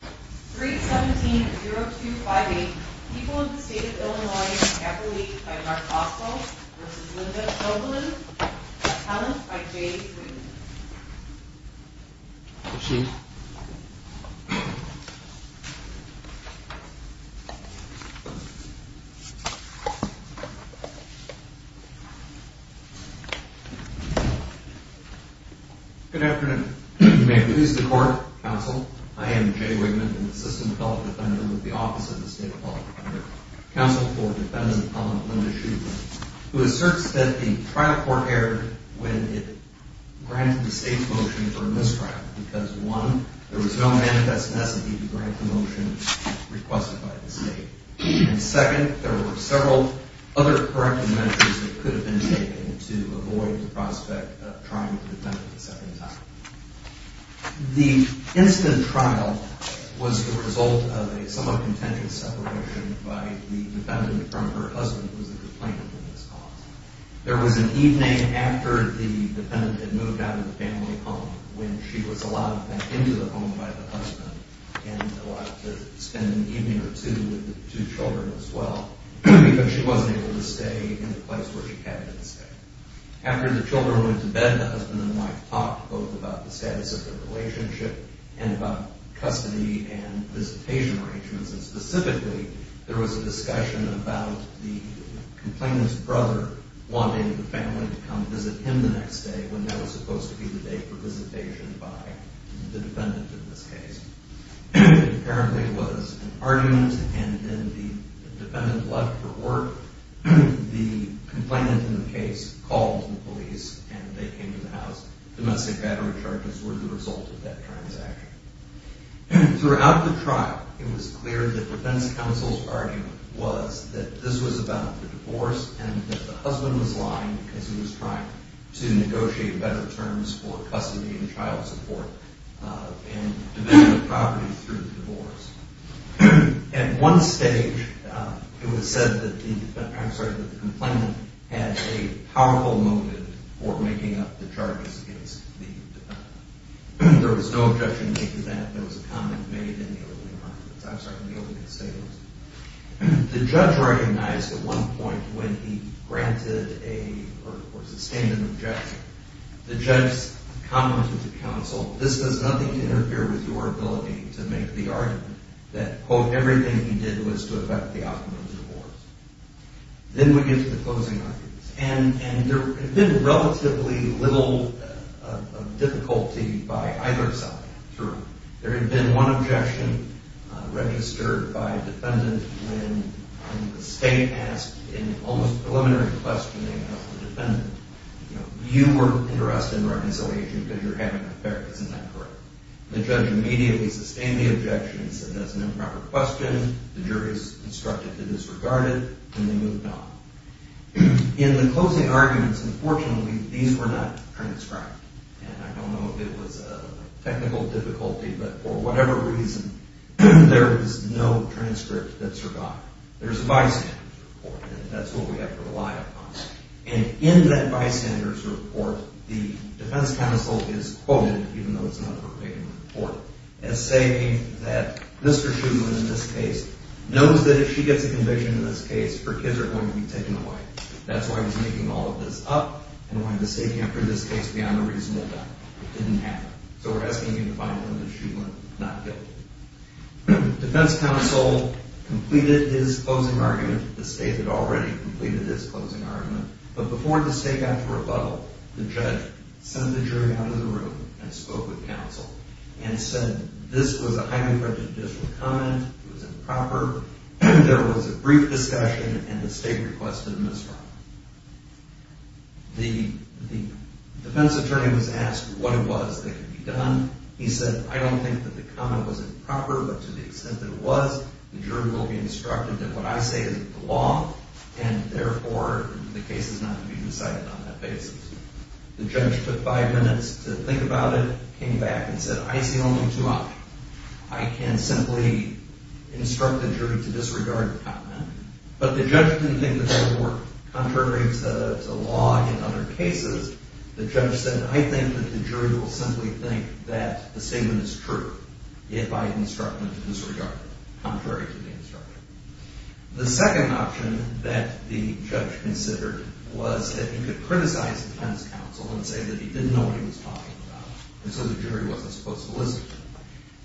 3-17-0258, People of the State of Illinois, Appalachia, by Mark Oswald v. Linda Shoevlin, Appalachia, by J.D. Freeman Good afternoon. You may please the court, counsel. I am Jay Wigman, an assistant fellow defendant with the Office of the State of Appalachia, counsel for defendant Linda Shoevlin, who asserts that the trial court erred when it granted the State of Appalachia the right to sue. The State's motions were a mistrial because, one, there was no manifest necessity to grant the motion requested by the State, and second, there were several other corrective measures that could have been taken to avoid the prospect of trying the defendant a second time. The instant trial was the result of a somewhat contentious separation by the defendant from her husband, who was a complainant in this cause. There was an evening after the defendant had moved out of the family home when she was allowed back into the home by the husband and allowed to spend an evening or two with the two children as well, because she wasn't able to stay in the place where she had been staying. After the children went to bed, the husband and wife talked both about the status of their relationship and about custody and visitation arrangements, and specifically, there was a discussion about the complainant's brother wanting the family to come visit him the next day when that was supposed to be the day for visitation by the defendant in this case. It apparently was an argument, and then the defendant left for work. The complainant in the case called the police, and they came to the house. Domestic battery charges were the result of that transaction. Throughout the trial, it was clear that defense counsel's argument was that this was about the divorce and that the husband was lying because he was trying to negotiate better terms for custody and child support and development of property through the divorce. At one stage, it was said that the complainant had a powerful motive for making up the charges against the defendant. There was no objection to that. There was a comment made in the opening arguments. I'm sorry, in the opening statements. The judge recognized at one point when he granted or sustained an objection. The judge commented to counsel, this does nothing to interfere with your ability to make the argument that, quote, everything he did was to affect the outcome of the divorce. Then we get to the closing arguments, and there had been relatively little difficulty by either side. There had been one objection registered by a defendant when the state asked in almost preliminary questioning of the defendant, you were interested in reconciliation because you're having an affair. Isn't that correct? The judge immediately sustained the objection and said that's an improper question. The jury is instructed to disregard it, and they moved on. In the closing arguments, unfortunately, these were not transcribed. And I don't know if it was a technical difficulty, but for whatever reason, there is no transcript that survived. There's a bystander's report, and that's what we have to rely upon. And in that bystander's report, the defense counsel is quoted, even though it's not a verbatim report, as saying that Mr. Shulman, in this case, knows that if she gets a conviction in this case, her kids are going to be taken away. That's why he's making all of this up and why the state can't bring this case beyond a reasonable doubt. It didn't happen. So we're asking you to find evidence that Shulman is not guilty. The defense counsel completed his closing argument. The state had already completed its closing argument. But before the state got to rebuttal, the judge sent the jury out of the room and spoke with counsel and said this was a highly prejudicial comment. It was improper. There was a brief discussion, and the state requested a misfire. The defense attorney was asked what it was that could be done. He said, I don't think that the comment was improper, but to the extent that it was, the jury will be instructed that what I say is the law, and therefore, the case is not to be decided on that basis. The judge took five minutes to think about it, came back, and said, I see only two options. I can simply instruct the jury to disregard the comment, but the judge didn't think that that would work. Contrary to law in other cases, the judge said, I think that the jury will simply think that the statement is true if I instruct them to disregard it, contrary to the instruction. The second option that the judge considered was that he could criticize the defense counsel and say that he didn't know what he was talking about, and so the jury wasn't supposed to listen to him.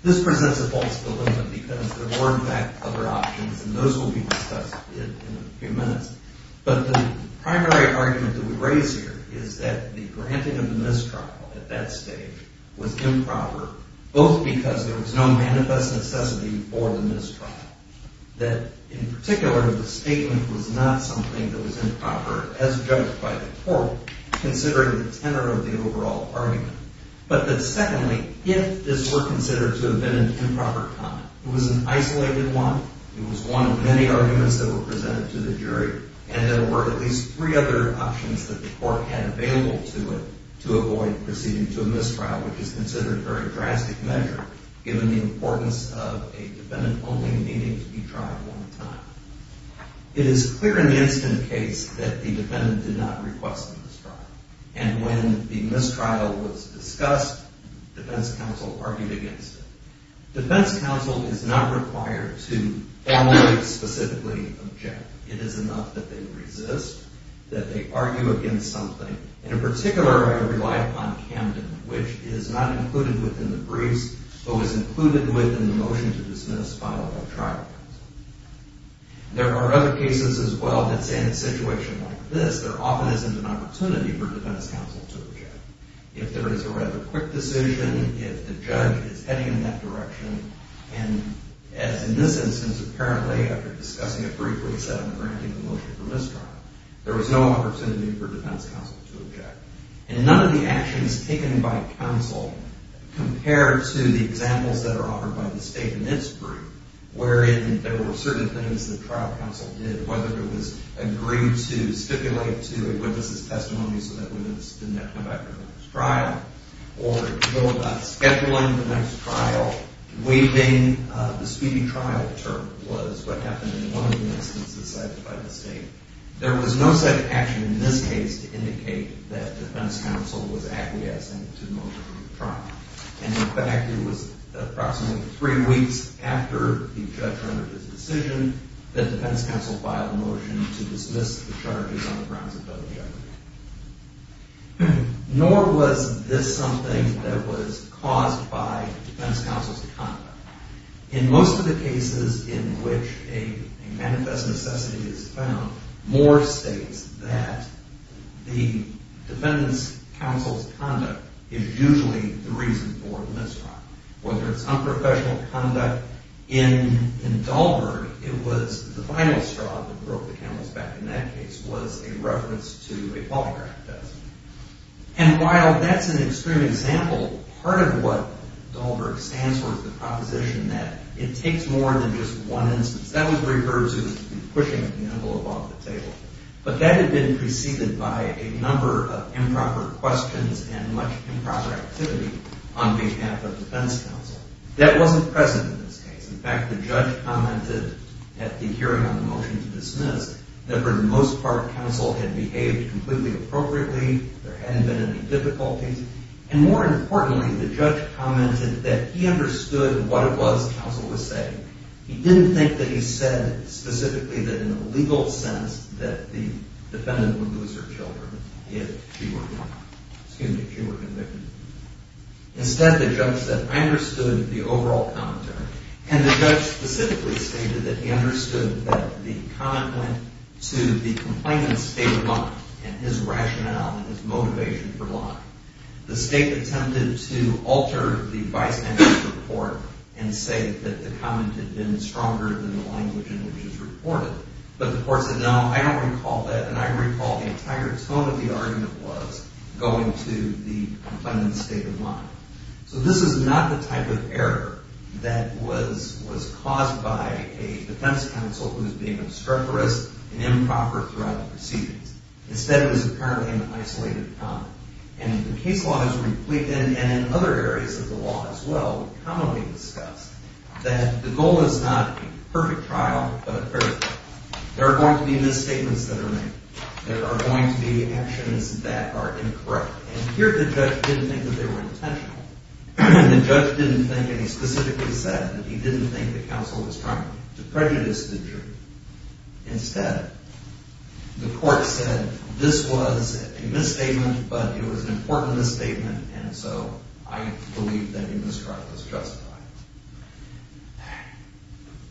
This presents a false dilemma because there were, in fact, other options, and those will be discussed in a few minutes, but the primary argument that we raise here is that the granting of the mistrial at that stage was improper, both because there was no manifest necessity for the mistrial, that in particular, the statement was not something that was improper, as judged by the court, considering the tenor of the overall argument, but that secondly, if this were considered to have been an improper comment, it was an isolated one, it was one of many arguments that were presented to the jury, and there were at least three other options that the court had available to it to avoid proceeding to a mistrial, which is considered a very drastic measure, given the importance of a defendant only needing to be tried one time. It is clear in the instant case that the defendant did not request a mistrial, and when the mistrial was discussed, defense counsel argued against it. Defense counsel is not required to formally, specifically object. It is enough that they resist, that they argue against something, and in particular, I rely upon Camden, which is not included within the briefs, but was included within the motion to dismiss filed by trial counsel. There are other cases as well that say in a situation like this, there often isn't an opportunity for defense counsel to object. If there is a rather quick decision, if the judge is heading in that direction, and as in this instance, apparently, after discussing a brief reset and granting the motion for mistrial, there was no opportunity for defense counsel to object. And none of the actions taken by counsel compared to the examples that are offered by the state in its brief, wherein there were certain things that trial counsel did, whether it was agreed to stipulate to a witness's testimony so that we would not have to come back for the next trial, or go about scheduling the next trial, waiving the speedy trial term was what happened in one of the instances cited by the state. There was no such action in this case to indicate that defense counsel was acquiescing to the motion for the trial. And in fact, it was approximately three weeks after the judge rendered his decision that defense counsel filed a motion to dismiss the charges on the grounds of federal government. Nor was this something that was caused by defense counsel's conduct. In most of the cases in which a manifest necessity is found, Moore states that the defendant's counsel's conduct is usually the reason for the mistrial. Whether it's unprofessional conduct in Dahlberg, it was the final straw that broke the camel's back in that case was a reference to a polygraph test. And while that's an extreme example, part of what Dahlberg stands for is the proposition that it takes more than just one instance. That was referred to as pushing the camel above the table. But that had been preceded by a number of improper questions and much improper activity on behalf of defense counsel. That wasn't present in this case. In fact, the judge commented at the hearing on the motion to dismiss that for the most part, counsel had behaved completely appropriately. There hadn't been any difficulties. And more importantly, the judge commented that he understood what it was counsel was saying. He didn't think that he said specifically that in a legal sense that the defendant would lose her children if she were convicted. Instead, the judge said, I understood the overall commentary. And the judge specifically stated that he understood that the comment went to the complainant's state of mind and his rationale and his motivation for lying. The state attempted to alter the vice manager's report and say that the comment had been stronger than the language in which it was reported. But the court said, no, I don't recall that. And I recall the entire tone of the argument was going to the complainant's state of mind. So this is not the type of error that was caused by a defense counsel who was being obstreperous and improper throughout the proceedings. Instead, it was apparently an isolated comment. And in other areas of the law as well, we commonly discuss that the goal is not a perfect trial, but a perfect one. There are going to be misstatements that are made. There are going to be actions that are incorrect. And here, the judge didn't think that they were intentional. The judge didn't think that he specifically said that he didn't think that counsel was trying to prejudice the jury. Instead, the court said this was a misstatement, but it was an important misstatement. And so I believe that he misconstrued it as justified.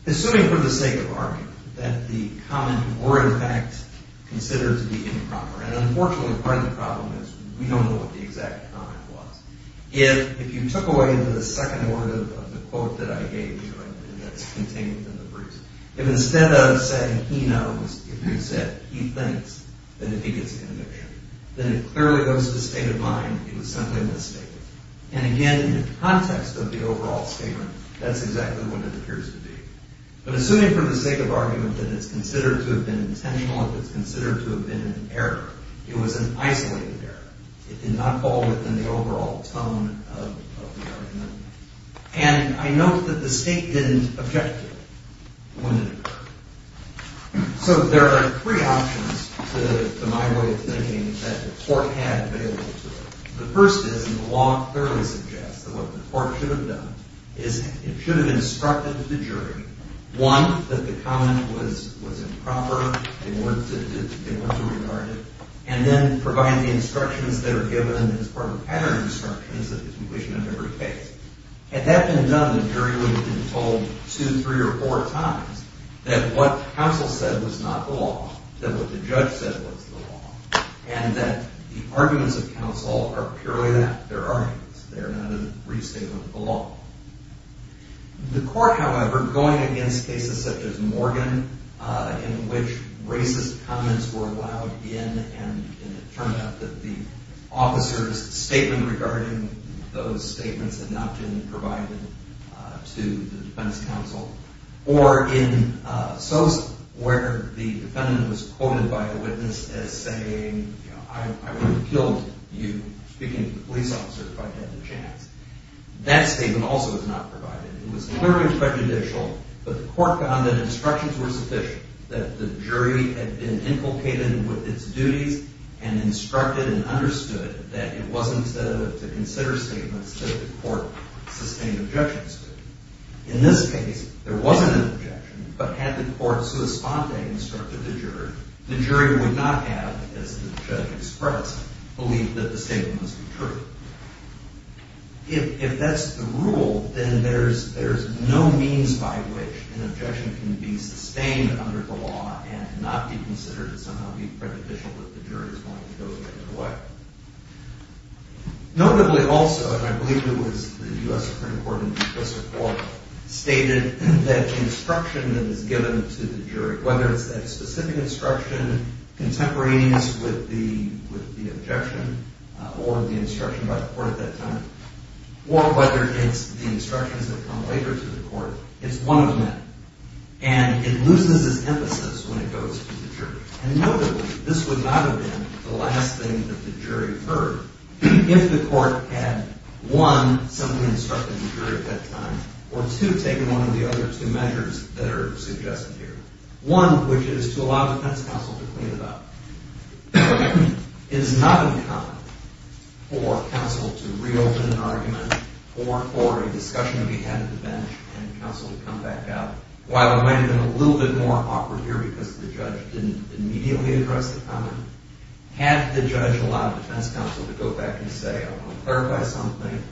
Assuming for the sake of argument that the comment were, in fact, considered to be improper. And unfortunately, part of the problem is we don't know what the exact comment was. If you took away the second word of the quote that I gave you and that's contained in the briefs. If instead of saying he knows, if you said he thinks, then he gets a conviction. Then it clearly goes to the state of mind it was simply a misstatement. And again, in the context of the overall statement, that's exactly what it appears to be. But assuming for the sake of argument that it's considered to have been intentional, if it's considered to have been an error. It was an isolated error. It did not fall within the overall tone of the argument. And I note that the state didn't object to it. When it occurred. So there are three options to my way of thinking that the court had available to it. The first is, and the law clearly suggests, that what the court should have done is it should have instructed the jury. One, that the comment was improper. They weren't to regard it. And then provide the instructions that are given as part of pattern instructions of the completion of every case. Had that been done, the jury would have been told two, three, or four times that what counsel said was not the law. That what the judge said was the law. And that the arguments of counsel are purely that. They're arguments. They're not a restatement of the law. The court, however, going against cases such as Morgan, in which racist comments were allowed in. And it turned out that the officer's statement regarding those statements had not been provided to the defense counsel. Or in Sosa, where the defendant was quoted by a witness as saying, I would have killed you, speaking to the police officer, if I had the chance. That statement also was not provided. It was clearly prejudicial. But the court found that instructions were sufficient. That the jury had been inculcated with its duties. And instructed and understood that it wasn't to consider statements that the court sustained objections to. In this case, there wasn't an objection. But had the court sua sponte instructed the jury, the jury would not have, as the judge expressed, believed that the statement must be true. If that's the rule, then there's no means by which an objection can be sustained under the law. And not be considered to somehow be prejudicial that the jury is going to go either way. Notably also, and I believe it was the U.S. Supreme Court in this report, stated that instruction that is given to the jury. Whether it's that specific instruction contemporaneous with the objection. Or the instruction by the court at that time. Or whether it's the instructions that come later to the court. It's one of them. And it loses its emphasis when it goes to the jury. And notably, this would not have been the last thing that the jury heard. If the court had, one, simply instructed the jury at that time. Or two, taken one of the other two measures that are suggested here. One, which is to allow defense counsel to clean it up. It is not uncommon for counsel to reopen an argument. Or for a discussion to be had at the bench and counsel to come back out. While it might have been a little bit more awkward here because the judge didn't immediately address the comment. Had the judge allowed defense counsel to go back and say, I want to clarify something.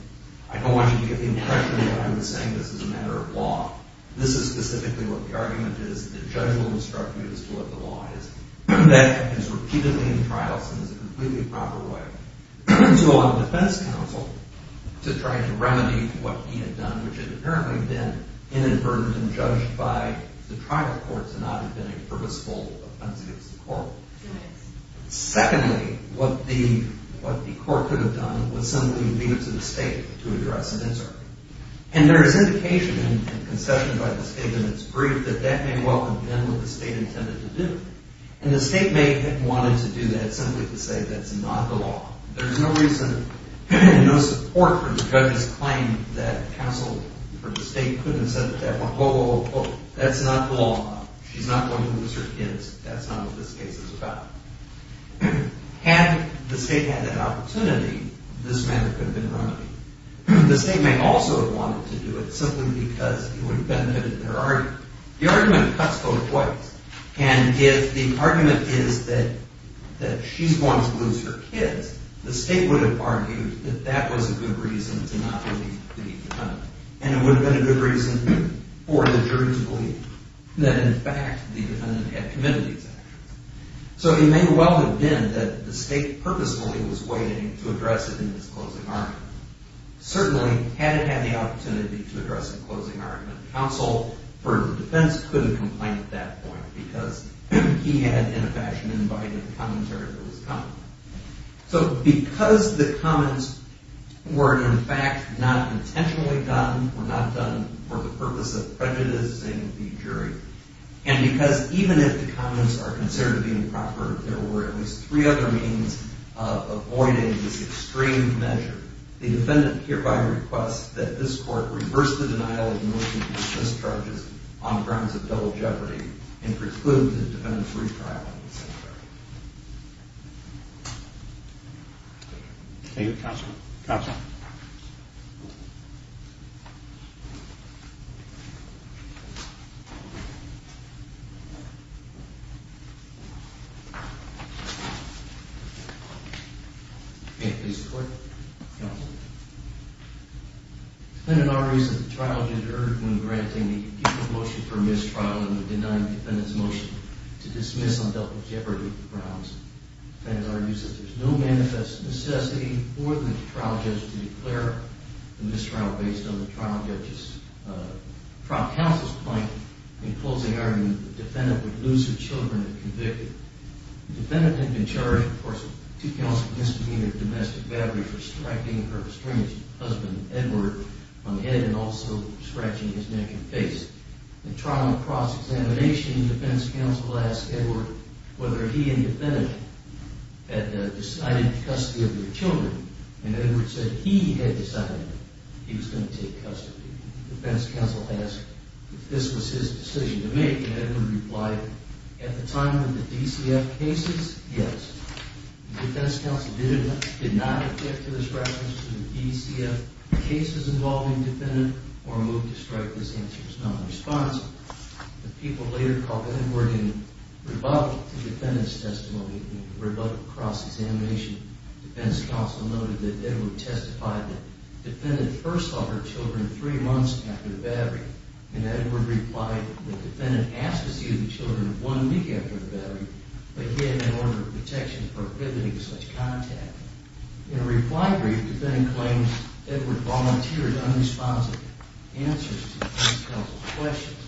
I don't want you to get the impression that I'm saying this is a matter of law. This is specifically what the argument is. The judge will instruct you as to what the law is. That is repeatedly in trials and is a completely proper way to allow defense counsel to try to remedy what he had done. Which had apparently been inadvertently judged by the trial court to not have been a purposeful offense against the court. Secondly, what the court could have done was simply leave it to the state to address an insert. And there is indication in concession by the state in its brief that that may well have been what the state intended to do. And the state may have wanted to do that simply to say that's not the law. There's no reason and no support for the judge's claim that counsel for the state couldn't have said that. That's not the law. She's not going to lose her kids. That's not what this case is about. Had the state had that opportunity, this matter could have been remedied. The state may also have wanted to do it simply because it would have benefited their argument. The argument cuts both ways. And if the argument is that she's going to lose her kids, the state would have argued that that was a good reason to not leave the defendant. And it would have been a good reason for the jury to believe that in fact the defendant had committed these actions. So it may well have been that the state purposely was waiting to address it in its closing argument. Certainly, had it had the opportunity to address the closing argument, counsel for the defense could have complained at that point because he had, in a fashion, invited the commentary that was coming. So because the comments were, in fact, not intentionally done, were not done for the purpose of prejudicing the jury, and because even if the comments are considered to be improper, there were at least three other means of avoiding this extreme measure, the defendant hereby requests that this court reverse the denial of militant abuse mischarges on grounds of double jeopardy and preclude the defendant's retrial in the second trial. Thank you, counsel. Counsel. Thank you. May it please the court. Counsel. The defendant argues that the trial judge erred when granting the guilty motion for mistrial and the denying defendant's motion to dismiss on double jeopardy grounds. The defendant argues that there's no manifest necessity for the trial judge to declare the mistrial based on the trial judge's, but from counsel's point in closing argument, the defendant would lose her children if convicted. The defendant had been charged, of course, with two counts of misdemeanor domestic battery for striking her estranged husband, Edward, on the head and also for scratching his neck and face. In trial cross-examination, the defense counsel asked Edward whether he and the defendant had decided custody of their children, and Edward said he had decided he was going to take custody. The defense counsel asked if this was his decision to make, and Edward replied, at the time of the DCF cases, yes. The defense counsel did not object to the scratchings to the DCF cases involving the defendant or move to strike. This answer was not responsive. The people later called Edward and rebut the defendant's testimony and rebut cross-examination. The defense counsel noted that Edward testified that the defendant first saw her children three months after the battery, and Edward replied that the defendant asked to see the children one week after the battery, but he had an order of protection prohibiting such contact. In a reply brief, the defendant claims Edward volunteered unresponsive answers to the defense counsel's questions.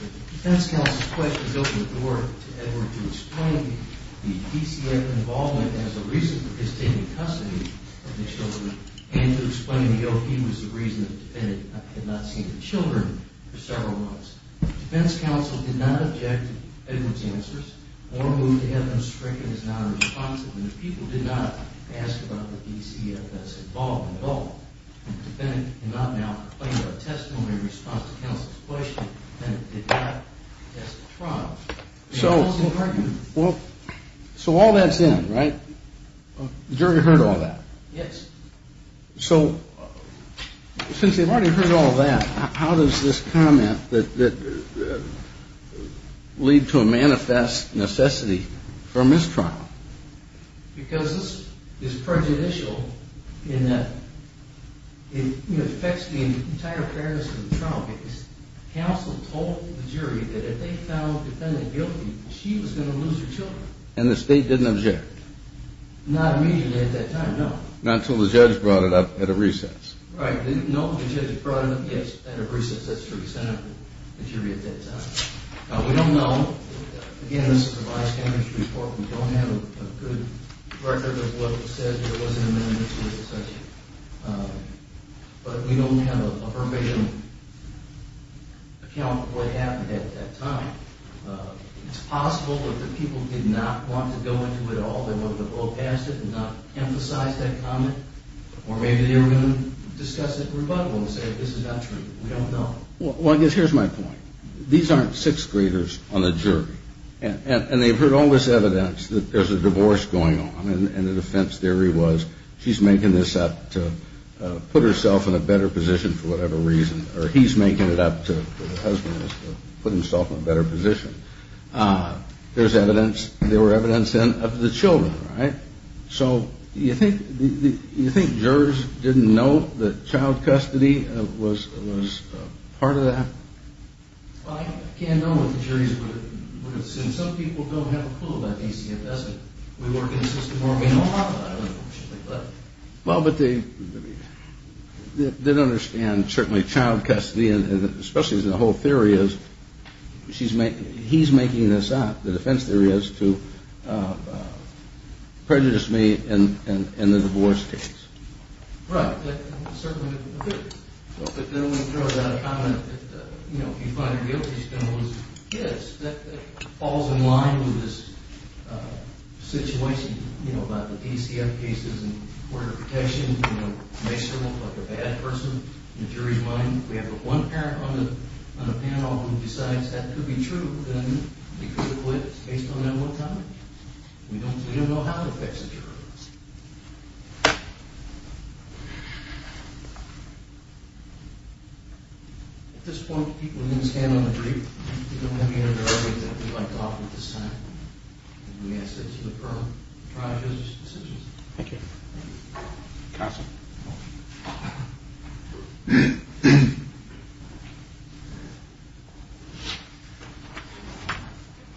The defense counsel's questions opened the door to Edward to explain the DCF involvement as a reason for his taking custody of the children and to explain that he was the reason the defendant had not seen the children for several months. The defense counsel did not object to Edward's answers or move to have them stricken as nonresponsive, and the people did not ask about the DCF's involvement at all. The defendant did not now complain about testimony in response to counsel's question. The defendant did not ask a trial. So all that's in, right? The jury heard all that. Yes. So since they've already heard all that, how does this comment that lead to a manifest necessity for a mistrial? Because this is prejudicial in that it affects the entire fairness of the trial case. Counsel told the jury that if they found the defendant guilty, she was going to lose her children. And the state didn't object? Not immediately at that time, no. Not until the judge brought it up at a recess? Right. No, the judge brought it up, yes, at a recess. That's true. Sent it to the jury at that time. Now, we don't know. Again, this is the vice governor's report. We don't have a good record of what was said. There wasn't a minute or two of discussion. But we don't have a permission to account for what happened at that time. It's possible that the people did not want to go into it at all. They wanted to go past it and not emphasize that comment. Or maybe they were going to discuss it rebuttably and say this is not true. We don't know. Well, I guess here's my point. These aren't sixth graders on the jury. And they've heard all this evidence that there's a divorce going on. And the defense theory was she's making this up to put herself in a better position for whatever reason. Or he's making it up to her husband to put himself in a better position. There's evidence. There were evidence of the children, right? So you think jurors didn't know that child custody was part of that? Well, I can't know what the juries would have said. Some people don't have a clue about DCFS. We work in a system where we know a lot about it, unfortunately. Well, but they didn't understand certainly child custody, and especially the whole theory is he's making this up, the defense theory is, to prejudice me and the divorce case. Right. But then we throw out a comment that, you know, if you find a guilty stimulus, yes, that falls in line with this situation, you know, about the DCF cases and court of protections, you know, makes you look like a bad person in a jury's mind. If we have one parent on the panel who decides that could be true, then we could acquit based on that one comment. We don't know how to fix the jurors. At this point, people in this panel agree. We don't have any other arguments that we'd like to offer at this time, and we ask that you defer trial and judicial decisions. Thank you. Counsel.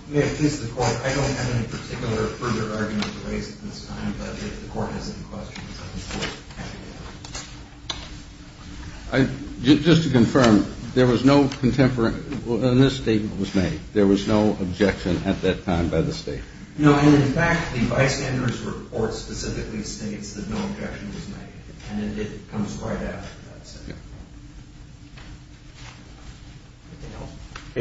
May it please the court, I don't have any particular further arguments to raise at this time, but if the court has any questions, I would be happy to have them. Just to confirm, there was no contemporary, in this statement that was made, there was no objection at that time by the state? No, and in fact, the bystander's report specifically states that no objection was made. And it comes right after that.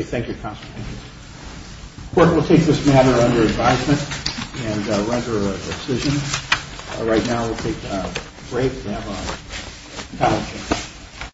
Thank you, counsel. The court will take this matter under advisement and render a decision. Right now we'll take a break and have a panel discussion.